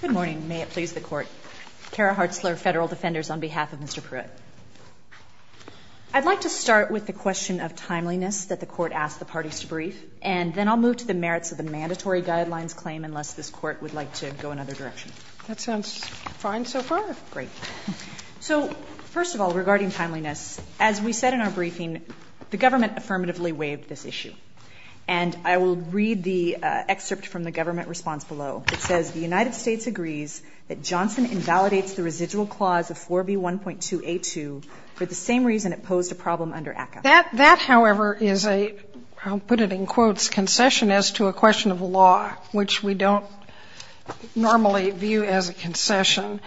Good morning. May it please the Court. Kara Hartzler, Federal Defenders, on behalf of Mr. Pruett. I'd like to start with the question of timeliness that the Court asked the parties to brief, and then I'll move to the merits of the mandatory guidelines claim unless this Court would like to go another direction. That sounds fine so far. Great. So, first of all, regarding timeliness, as we said in our briefing, the Government affirmatively waived this issue. And I will read the excerpt from the Government response below. It says, the United States agrees that Johnson invalidates the residual clause of 4B1.2A2 for the same reason it posed a problem under ACCA. That, however, is a, I'll put it in quotes, concession as to a question of law, which we don't normally view as a concession.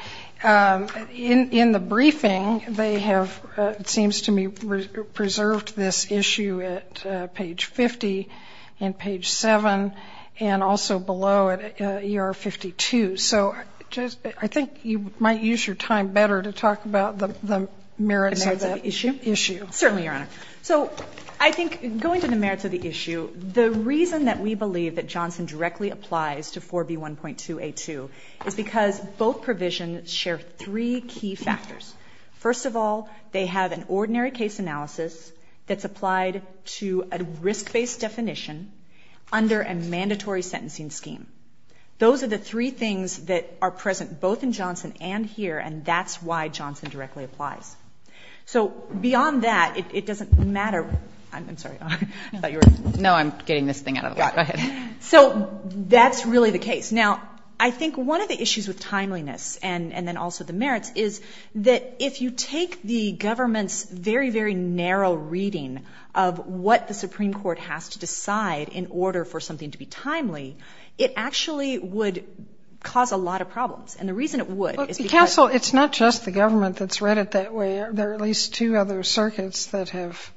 In the briefing, they have, it seems to me, preserved this issue at page 50 and page 7, and also below at ER 52. So just, I think you might use your time better to talk about the, the merits of that issue. Certainly, Your Honor. So I think, going to the merits of the issue, the reason that we believe that Johnson directly applies to 4B1.2A2 is because both provisions share three key factors. First of all, they have an ordinary case analysis that's applied to a risk-based definition under a mandatory sentencing scheme. Those are the three things that are present both in Johnson and here, and that's why Johnson directly applies. So beyond that, it doesn't matter, I'm sorry, I thought you were, no, I'm getting this thing out of the way. Go ahead. So that's really the case. Now, I think one of the issues with timeliness and, and then also the merits is that if you take the government's very, very narrow reading of what the Supreme Court has to decide in order for something to be timely, it actually would cause a lot of problems. And the reason it would is because Look, Counsel, it's not just the government that's read it that way. There are at least two other circuits that have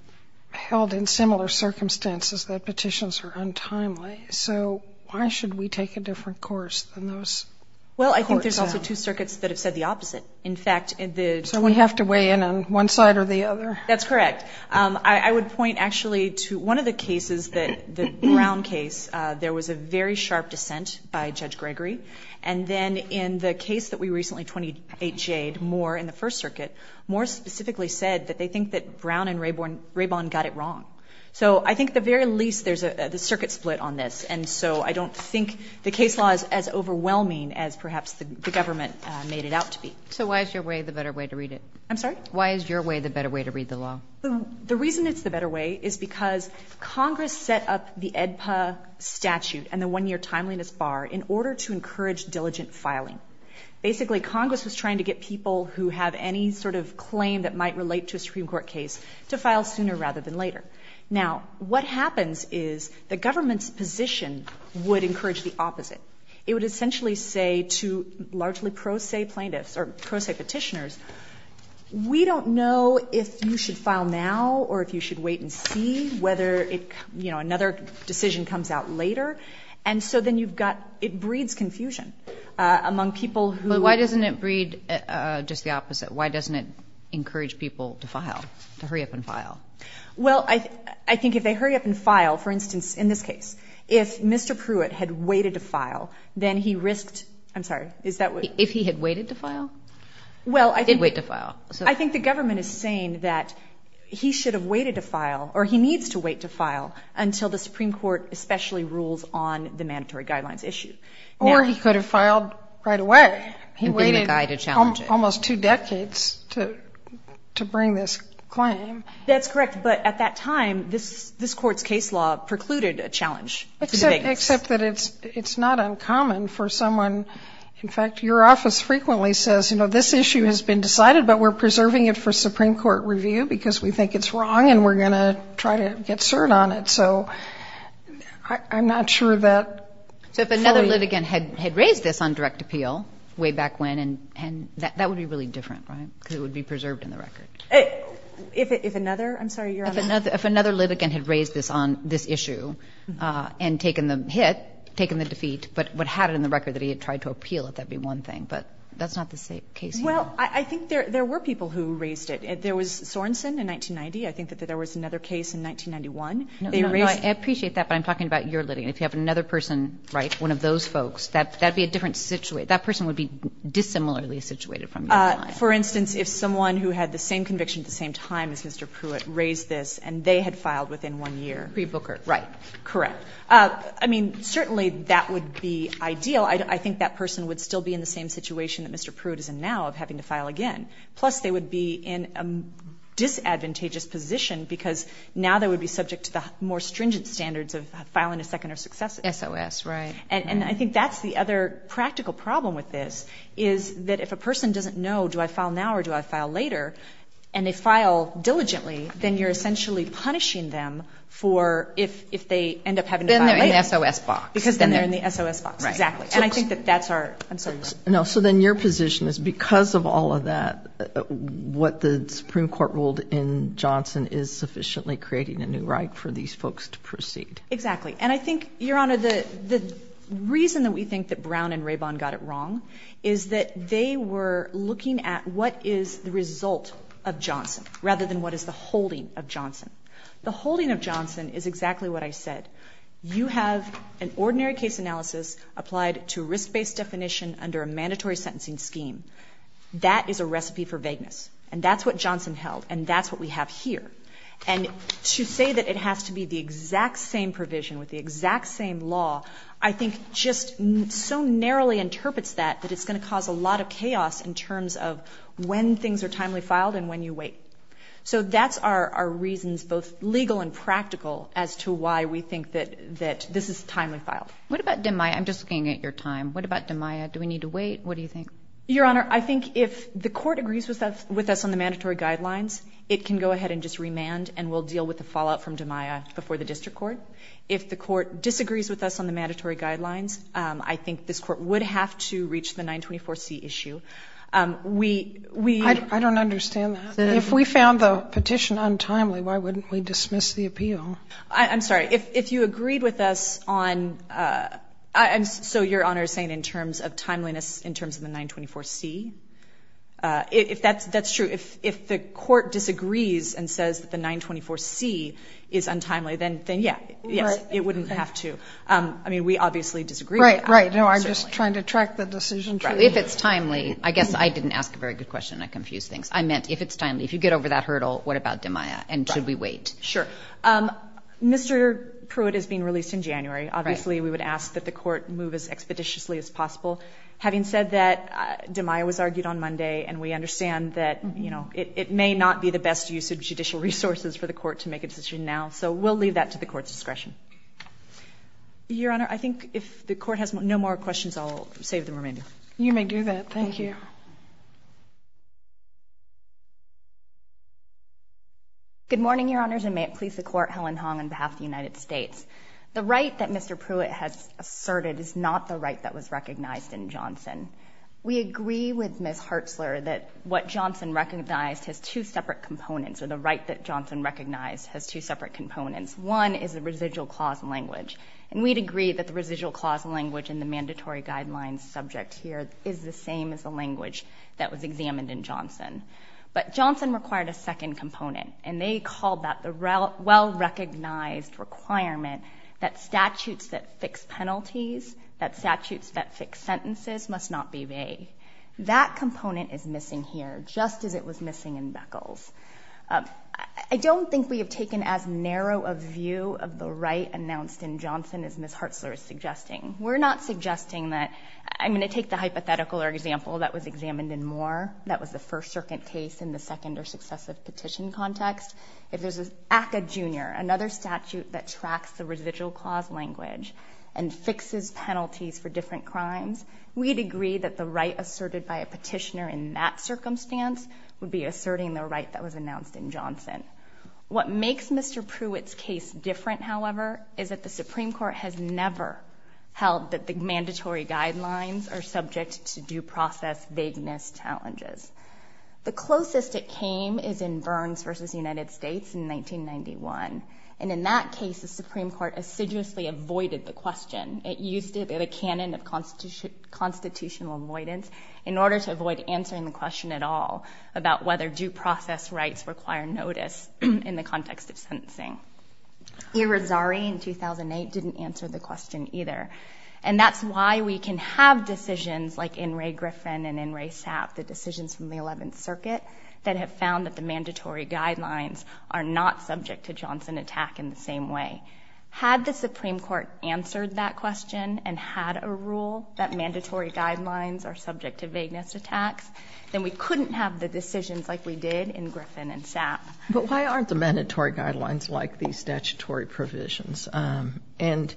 held in similar circumstances that petitions are untimely. So why should we take a different course than those courts have? Well, I think there's also two circuits that have said the opposite. In fact, the So we have to weigh in on one side or the other? That's correct. I would point actually to one of the cases that, the Brown case, there was a very sharp dissent by Judge Gregory. And then in the case that we recently, 28 Jade Moore in the First Circuit, Moore specifically said that they think that Brown and Raybon got it wrong. So I think at the very least, there's a circuit split on this. And so I don't think the case law is as overwhelming as perhaps the government made it out to be. So why is your way the better way to read it? I'm sorry? Why is your way the better way to read the law? The reason it's the better way is because Congress set up the AEDPA statute and the one-year timeliness bar in order to encourage diligent filing. Basically, Congress was trying to get people who have any sort of claim that might relate to a Supreme Court case to file sooner rather than later. Now, what happens is the government's position would encourage the opposite. It would essentially say to largely pro se plaintiffs or pro se petitioners, we don't know if you should file now or if you should wait and see whether another decision comes out later. And so then you've got, it breeds confusion among people who So why doesn't it breed just the opposite? Why doesn't it encourage people to file, to hurry up and file? Well, I think if they hurry up and file, for instance, in this case, if Mr. Pruitt had waited to file, then he risked, I'm sorry, is that what? If he had waited to file? Well, I think He did wait to file. I think the government is saying that he should have waited to file or he needs to wait to file until the Supreme Court especially rules on the mandatory guidelines issue. Or he could have filed right away. He waited almost two decades to bring this claim. That's correct. But at that time, this court's case law precluded a challenge. Except that it's not uncommon for someone, in fact, your office frequently says, you know, this issue has been decided, but we're preserving it for Supreme Court review because we think it's wrong and we're going to try to get cert on it. So I'm not sure that So if another litigant had raised this on direct appeal way back when, and that would be really different, right? Because it would be preserved in the record. If another, I'm sorry, you're on a... If another litigant had raised this on this issue and taken the hit, taken the defeat, but had it in the record that he had tried to appeal, that would be one thing. But that's not the case here. Well, I think there were people who raised it. There was Sorenson in 1990. I think that there was another case in 1991. No, no. I appreciate that, but I'm talking about your litigant. If you have another person, right, one of those folks, that would be a different situation. That person would be dissimilarly situated from your client. For instance, if someone who had the same conviction at the same time as Mr. Pruitt raised this and they had filed within one year. Pre-Booker. Right. Correct. I mean, certainly that would be ideal. I think that person would still be in the same situation that Mr. Pruitt is in now of having to file again. Plus, they would be in a disadvantageous position because now they would be subject to the more stringent standards of filing a second or successive. SOS, right. And I think that's the other practical problem with this is that if a person doesn't know, do I file now or do I file later, and they file diligently, then you're essentially punishing them for if they end up having to file later. Then they're in the SOS box. Because then they're in the SOS box. Exactly. And I think that that's our, I'm sorry. No, so then your position is because of all of that, what the Supreme Court ruled in Johnson is sufficiently creating a new right for these folks to proceed. Exactly. And I think, Your Honor, the reason that we think that Brown and Rabon got it wrong is that they were looking at what is the result of Johnson rather than what is the holding of Johnson. The holding of Johnson is exactly what I said. You have an ordinary case analysis applied to risk-based definition under a mandatory sentencing scheme. That is a recipe for vagueness. And that's what Johnson held. And that's what we have here. And to say that it has to be the exact same provision with the exact same law, I think just so narrowly interprets that that it's going to cause a lot of chaos in terms of when things are timely filed and when you wait. So that's our reasons, both legal and practical, as to why we think that this is timely filed. What about DiMaia? I'm just looking at your time. What about DiMaia? Do we need to wait? What do you think? Your Honor, I think if the court agrees with us on the mandatory guidelines, it can go ahead and just remand and we'll deal with the fallout from DiMaia before the district court. If the court disagrees with us on the mandatory guidelines, I think this court would have to reach the 924C issue. I don't understand that. If we found the petition untimely, why wouldn't we dismiss the appeal? I'm sorry. If you agreed with us on, so Your Honor is saying in terms of timeliness, in terms of the 924C? If that's true, if the court disagrees and says that the 924C is untimely, then yes, it wouldn't have to. I mean, we obviously disagree with that. Right, right. No, I'm just trying to track the decision. If it's timely, I guess I didn't ask a very good question and I confused things. I meant if it's timely, if you get over that hurdle, what about DiMaia and should we wait? Sure. Mr. Pruitt is being released in January. Obviously, we would ask that the court move as expeditiously as possible. Having said that, DiMaia was argued on Monday and we understand that it may not be the best use of judicial resources for the court to make a decision now, so we'll leave that to the court's discretion. Your Honor, I think if the court has no more questions, I'll save the remaining. You may do that. Thank you. Good morning, Your Honors, and may it please the court, Helen Hong on behalf of the United States. The right that Mr. Pruitt has asserted is not the right that was recognized in Johnson. We agree with Ms. Hartzler that what Johnson recognized has two separate components, or the right that Johnson recognized has two separate components. One is the residual clause language, and we'd agree that the residual clause language in the mandatory guidelines subject here is the same as the language that was examined in Johnson. But Johnson required a second component, and they called that the well-recognized requirement that statutes that fix penalties, that statutes that fix sentences, must not be made. That component is missing here, just as it was missing in Beckles. I don't think we have taken as narrow a view of the right announced in Johnson as Ms. Hartzler is suggesting. We're not suggesting that — I'm going to take the hypothetical or example that was examined in Moore, that was the First Circuit case in the second or successive petition context. If there's an ACCA, Jr., another statute that tracks the residual clause language and fixes penalties for different crimes, we'd agree that the right asserted by a petitioner in that circumstance would be asserting the right that was announced in Johnson. What makes Mr. Pruitt's case different, however, is that the Supreme Court has never held that the mandatory guidelines are subject to due process vagueness challenges. The closest it came is in Burns v. United States in 1991, and in that case the Supreme Court assiduously avoided the question. It used it as a canon of constitutional avoidance in order to avoid answering the question at all about whether due process rights require notice in the context of sentencing. Ira Zari in 2008 didn't answer the question either, and that's why we can have decisions like in Ray Griffin and in Ray Sapp, the decisions from the 11th Circuit, that have found that the mandatory guidelines are not subject to Johnson attack in the same way. Had the Supreme Court said that the mandatory guidelines are subject to vagueness attacks, then we couldn't have the decisions like we did in Griffin and Sapp. But why aren't the mandatory guidelines like these statutory provisions? And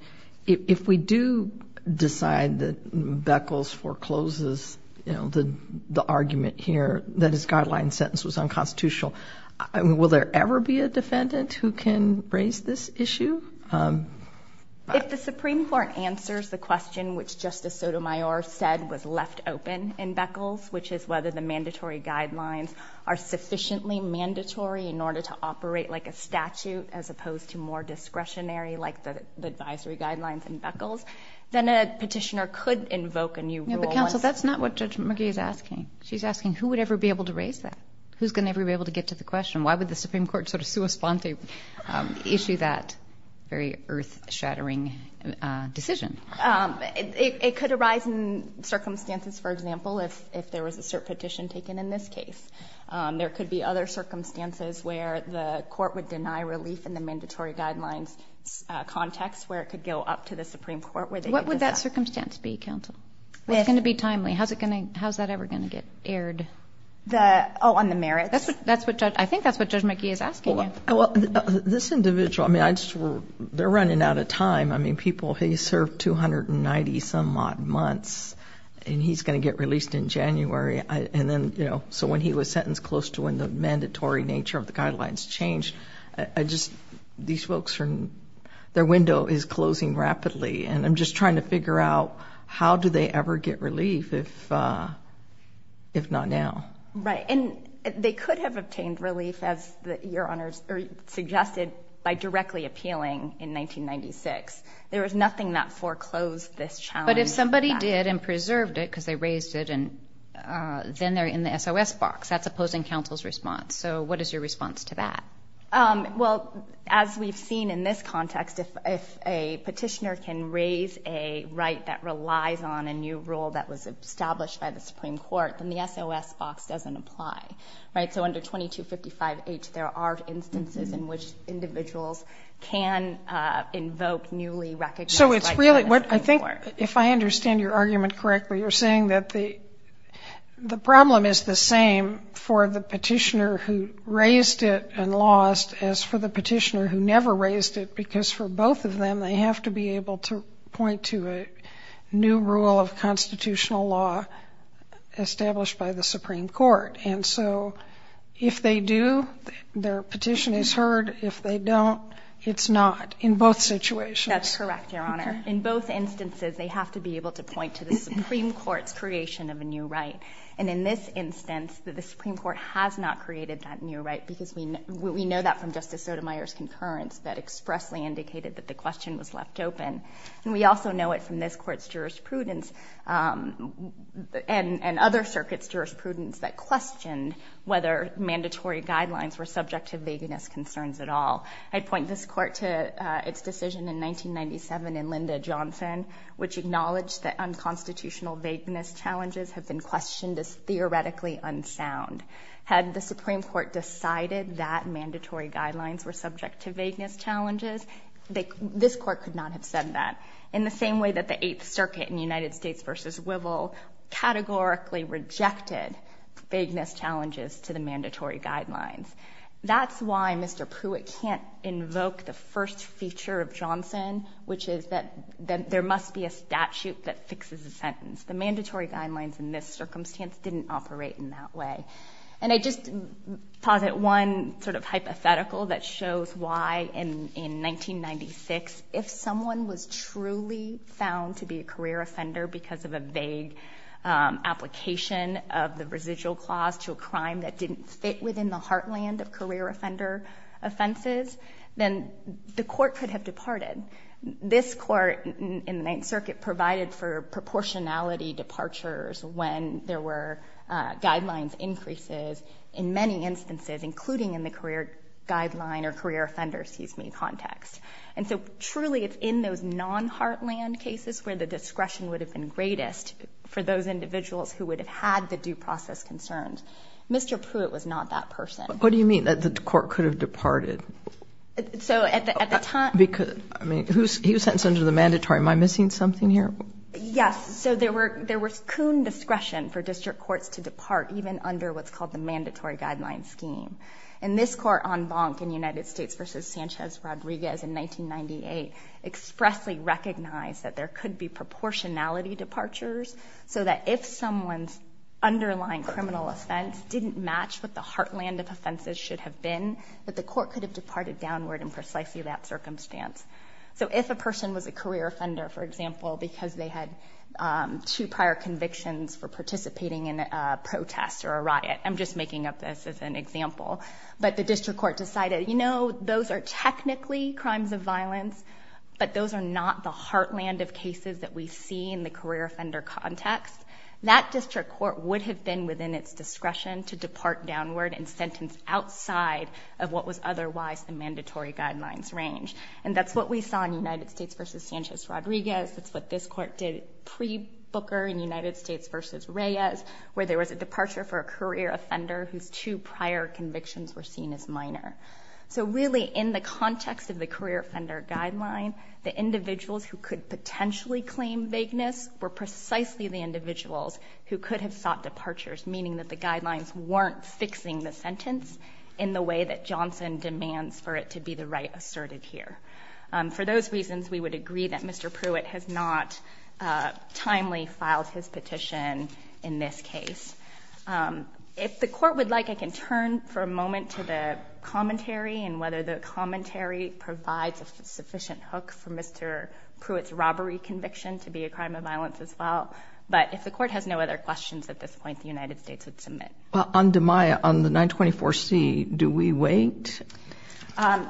if we do decide that Beckles forecloses, you know, the argument here that his guideline sentence was unconstitutional, will there ever be a defendant who can raise this issue? If the Supreme Court answers the question which Justice Sotomayor said was left open in Beckles, which is whether the mandatory guidelines are sufficiently mandatory in order to operate like a statute as opposed to more discretionary like the advisory guidelines in Beckles, then a petitioner could invoke a new rule. But counsel, that's not what Judge McGee is asking. She's asking who would ever be able to raise that? Who's going to ever be able to get to the question? Why would the Supreme Court have a very earth-shattering decision? It could arise in circumstances, for example, if there was a cert petition taken in this case. There could be other circumstances where the court would deny relief in the mandatory guidelines context where it could go up to the Supreme Court. What would that circumstance be, counsel? It's going to be timely. How's that ever going to get aired? Oh, on the merits? I think that's what Judge McGee is asking. Well, this individual, I mean, they're running out of time. I mean, people, he served 290 some odd months, and he's going to get released in January. And then, you know, so when he was sentenced close to when the mandatory nature of the guidelines changed, I just, these folks, their window is closing rapidly. And I'm just trying to figure out how do they ever get relief if not now? Right. And they could have obtained relief, as Your Honors suggested, by directly appealing in 1996. There was nothing that foreclosed this challenge. But if somebody did and preserved it because they raised it, then they're in the SOS box. That's opposing counsel's response. So what is your response to that? Well, as we've seen in this context, if a petitioner can raise a right that relies on a new rule that was established by the Supreme Court, then the SOS box doesn't apply. Right? So under 2255H, there are instances in which individuals can invoke newly recognized rights by the Supreme Court. So it's really what I think, if I understand your argument correctly, you're saying that the problem is the same for the petitioner who raised it and lost as for the petitioner who never raised it, because for both of them, they have to be able to point to a new rule of constitutional law established by the Supreme Court. And so if they do, their petition is heard. If they don't, it's not, in both situations. That's correct, Your Honor. In both instances, they have to be able to point to the Supreme Court's creation of a new right. And in this instance, the Supreme Court has not created that new right because we know that from Justice Sotomayor's concurrence that expressly indicated that the question was left open. And we also know it from this Court's jurisprudence and other circuits' jurisprudence that questioned whether mandatory guidelines were subject to vagueness concerns at all. I'd point this Court to its decision in 1997 in Linda Johnson, which acknowledged that unconstitutional vagueness challenges have been questioned as theoretically unsound. Had the Supreme Court decided that mandatory guidelines were subject to vagueness challenges, this Court could not have said that, in the same way that the Eighth Circuit in United States v. Wivel categorically rejected vagueness challenges to the mandatory guidelines. That's why Mr. Pruitt can't invoke the first feature of Johnson, which is that there must be a statute that fixes a sentence. The mandatory guidelines in this circumstance didn't operate in that way. And I just posit one sort of hypothetical that shows why, in 1996, if someone was truly found to be a career offender because of a vague application of the residual clause to a crime that didn't fit within the heartland of career offender offenses, then the Court could have departed. This Court in the Ninth Circuit provided for proportionality departures when there were guidelines increases in many instances, including in the career guideline or career offender, excuse me, context. And so truly it's in those non-heartland cases where the discretion would have been greatest for those individuals who would have had the due process concerns. Mr. Pruitt was not that person. Kagan. What do you mean, that the Court could have departed? O'Connell. So at the time — Kagan. Because, I mean, he was sentenced under the mandatory. Am I missing something here? Yes. So there was koon discretion for district courts to depart even under what's called the mandatory guideline scheme. And this Court en banc in United States v. Sanchez-Rodriguez in 1998 expressly recognized that there could be proportionality departures so that if someone's underlying criminal offense didn't match what the heartland of offenses should have been, that the Court could have departed downward in precisely that circumstance. So if a person was a career offender, for example, because they had two prior convictions for participating in a protest or a riot — I'm just making up this as an example — but the district court decided, you know, those are technically crimes of violence, but those are not the heartland of cases that we see in the career offender context, that district court would have been within its discretion to depart downward and sentence outside of what was otherwise the mandatory guidelines range. And that's what we saw in United States v. Sanchez-Rodriguez. That's what this Court did pre-Booker in United States v. Reyes, where there was a departure for a career offender whose two prior convictions were seen as minor. So really, in the context of the career offender guideline, the individuals who could potentially claim vagueness were precisely the individuals who could have sought departures, meaning that the guidelines weren't fixing the sentence in the way that Johnson demands for it to be the right asserted here. For those reasons, we would agree that Mr. Pruitt has not timely filed his petition in this case. If the Court would like, I can turn for a moment to the commentary and whether the commentary provides a sufficient hook for Mr. Pruitt's robbery conviction to be a crime of violence as well. But if the Court has no other questions at this point, the United States would submit. Well, on DiMaia, on the 924C, do we wait?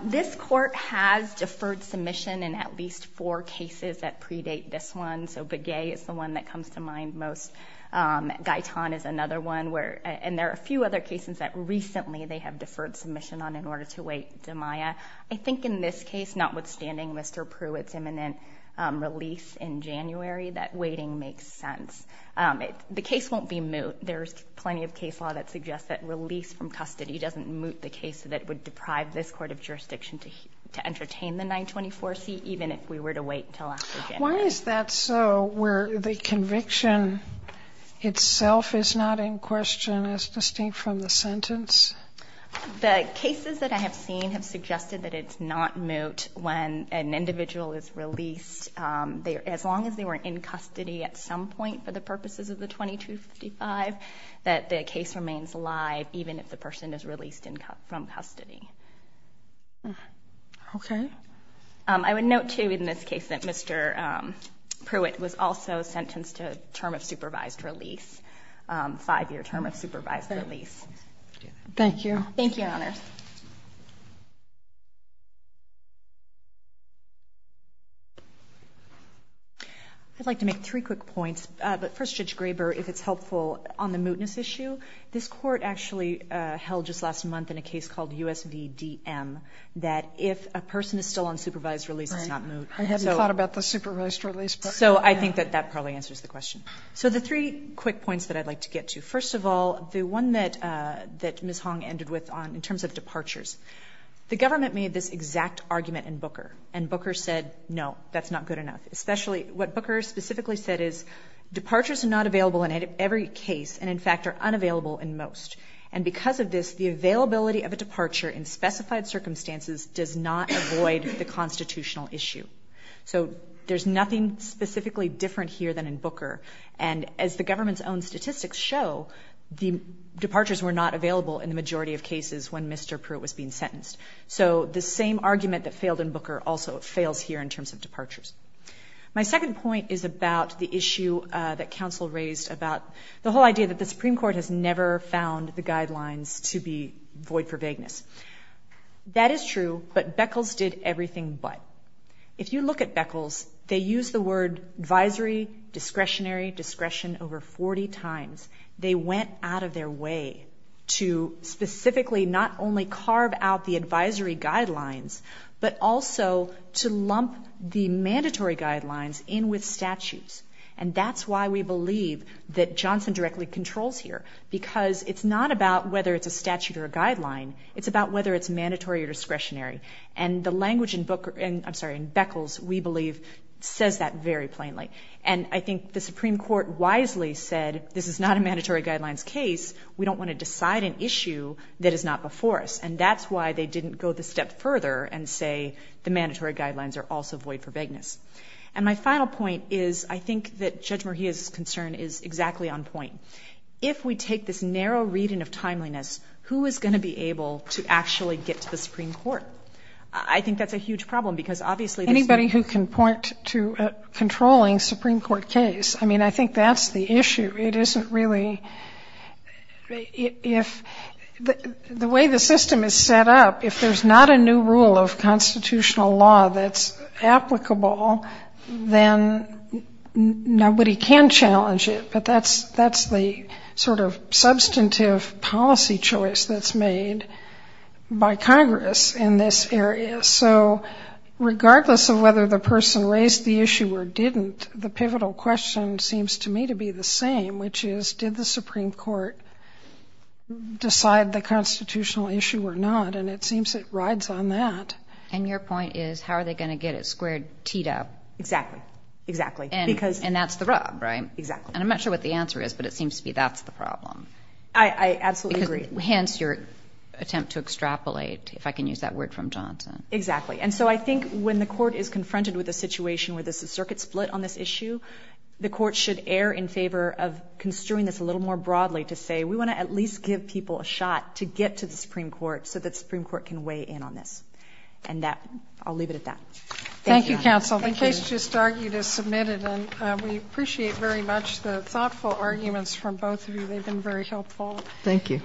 This Court has deferred submission in at least four cases that predate this one. So Begay is the one that comes to mind most. Gaitan is another one. And there are a few other cases that recently they have deferred submission on in order to wait DiMaia. I think in this case, notwithstanding Mr. Pruitt's imminent release in January, that waiting makes sense. The case won't be moot. There's plenty of case law that suggests that release from custody doesn't moot the case that would deprive this Court of jurisdiction to entertain the 924C, even if we were to wait until after January. Why is that so, where the conviction itself is not in question as distinct from the sentence? The cases that I have seen have suggested that it's not moot when an individual is released, as long as they were in custody at some point for the purposes of the 2255, that the case remains alive even if the person is released from custody. Okay. I would note, too, in this case that Mr. Pruitt was also sentenced to a term of supervised release, a five-year term of supervised release. Thank you. Thank you, Your Honors. I'd like to make three quick points. But first, Judge Graber, if it's helpful, on the mootness issue, this Court actually held just last month in a case called USVDM that if a person is still on supervised release, it's not moot. I hadn't thought about the supervised release. So I think that that probably answers the question. So the three quick points that I'd like to get to. First of all, the one that Ms. Hong ended with in terms of departures, the government made this exact argument in Booker. And Booker said, no, that's not good enough. Especially what Booker specifically said is, departures are not available in every case and, in fact, are unavailable in most. And because of this, the availability of a departure in specified circumstances does not avoid the constitutional issue. So there's nothing specifically different here than in Booker. And as the government's own statistics show, the departures were not available in the majority of cases when Mr. Pruitt was being sentenced. So the same argument that failed in Booker also fails here in terms of departures. My second point is about the issue that counsel raised about the whole idea that the Supreme Court has never found the guidelines to be void for vagueness. That is true, but Beckles did everything but. If you look at Beckles, they use the word advisory, discretionary, discretion over 40 times. They went out of their way to specifically not only carve out the advisory guidelines, but also to lump the mandatory guidelines in with statutes. And that's why we believe that Johnson directly controls here, because it's not about whether it's a statute or a guideline. It's about whether it's mandatory or discretionary. And the language in Booker, I'm sorry, in Beckles, we believe, says that very plainly. And I think the Supreme Court wisely said this is not a mandatory guidelines case. We don't want to decide an issue that is not before us. And that's why they didn't go the step further and say the mandatory guidelines are also void for vagueness. And my final point is I think that Judge Murhia's concern is exactly on point. If we take this narrow reading of timeliness, who is going to be able to actually get to the Supreme Court? I think that's a huge problem, because obviously there's not going to be anybody who can point to a controlling Supreme Court case. I mean, I think that's the issue. It isn't really the way the system is set up. If there's not a new rule of constitutional law that's applicable, then nobody can challenge it. But that's the sort of substantive policy choice that's made by Congress in this area. So regardless of whether the person raised the issue or didn't, the pivotal question seems to me to be the same, which is did the Supreme Court decide the constitutional issue or not? And it seems it rides on that. And your point is how are they going to get it squared teed up? Exactly. Exactly. And that's the rub, right? Exactly. And I'm not sure what the answer is, but it seems to me that's the problem. I absolutely agree. Hence your attempt to extrapolate, if I can use that word from Johnson. Exactly. And so I think when the court is confronted with a situation where there's a circuit split on this issue, the court should err in favor of construing this a little more broadly to say we want to at least give people a shot to get to the Supreme Court so that the Supreme Court can weigh in on this. And I'll leave it at that. Thank you, counsel. Thank you. This just argued as submitted, and we appreciate very much the thoughtful arguments from both of you. They've been very helpful. Thank you.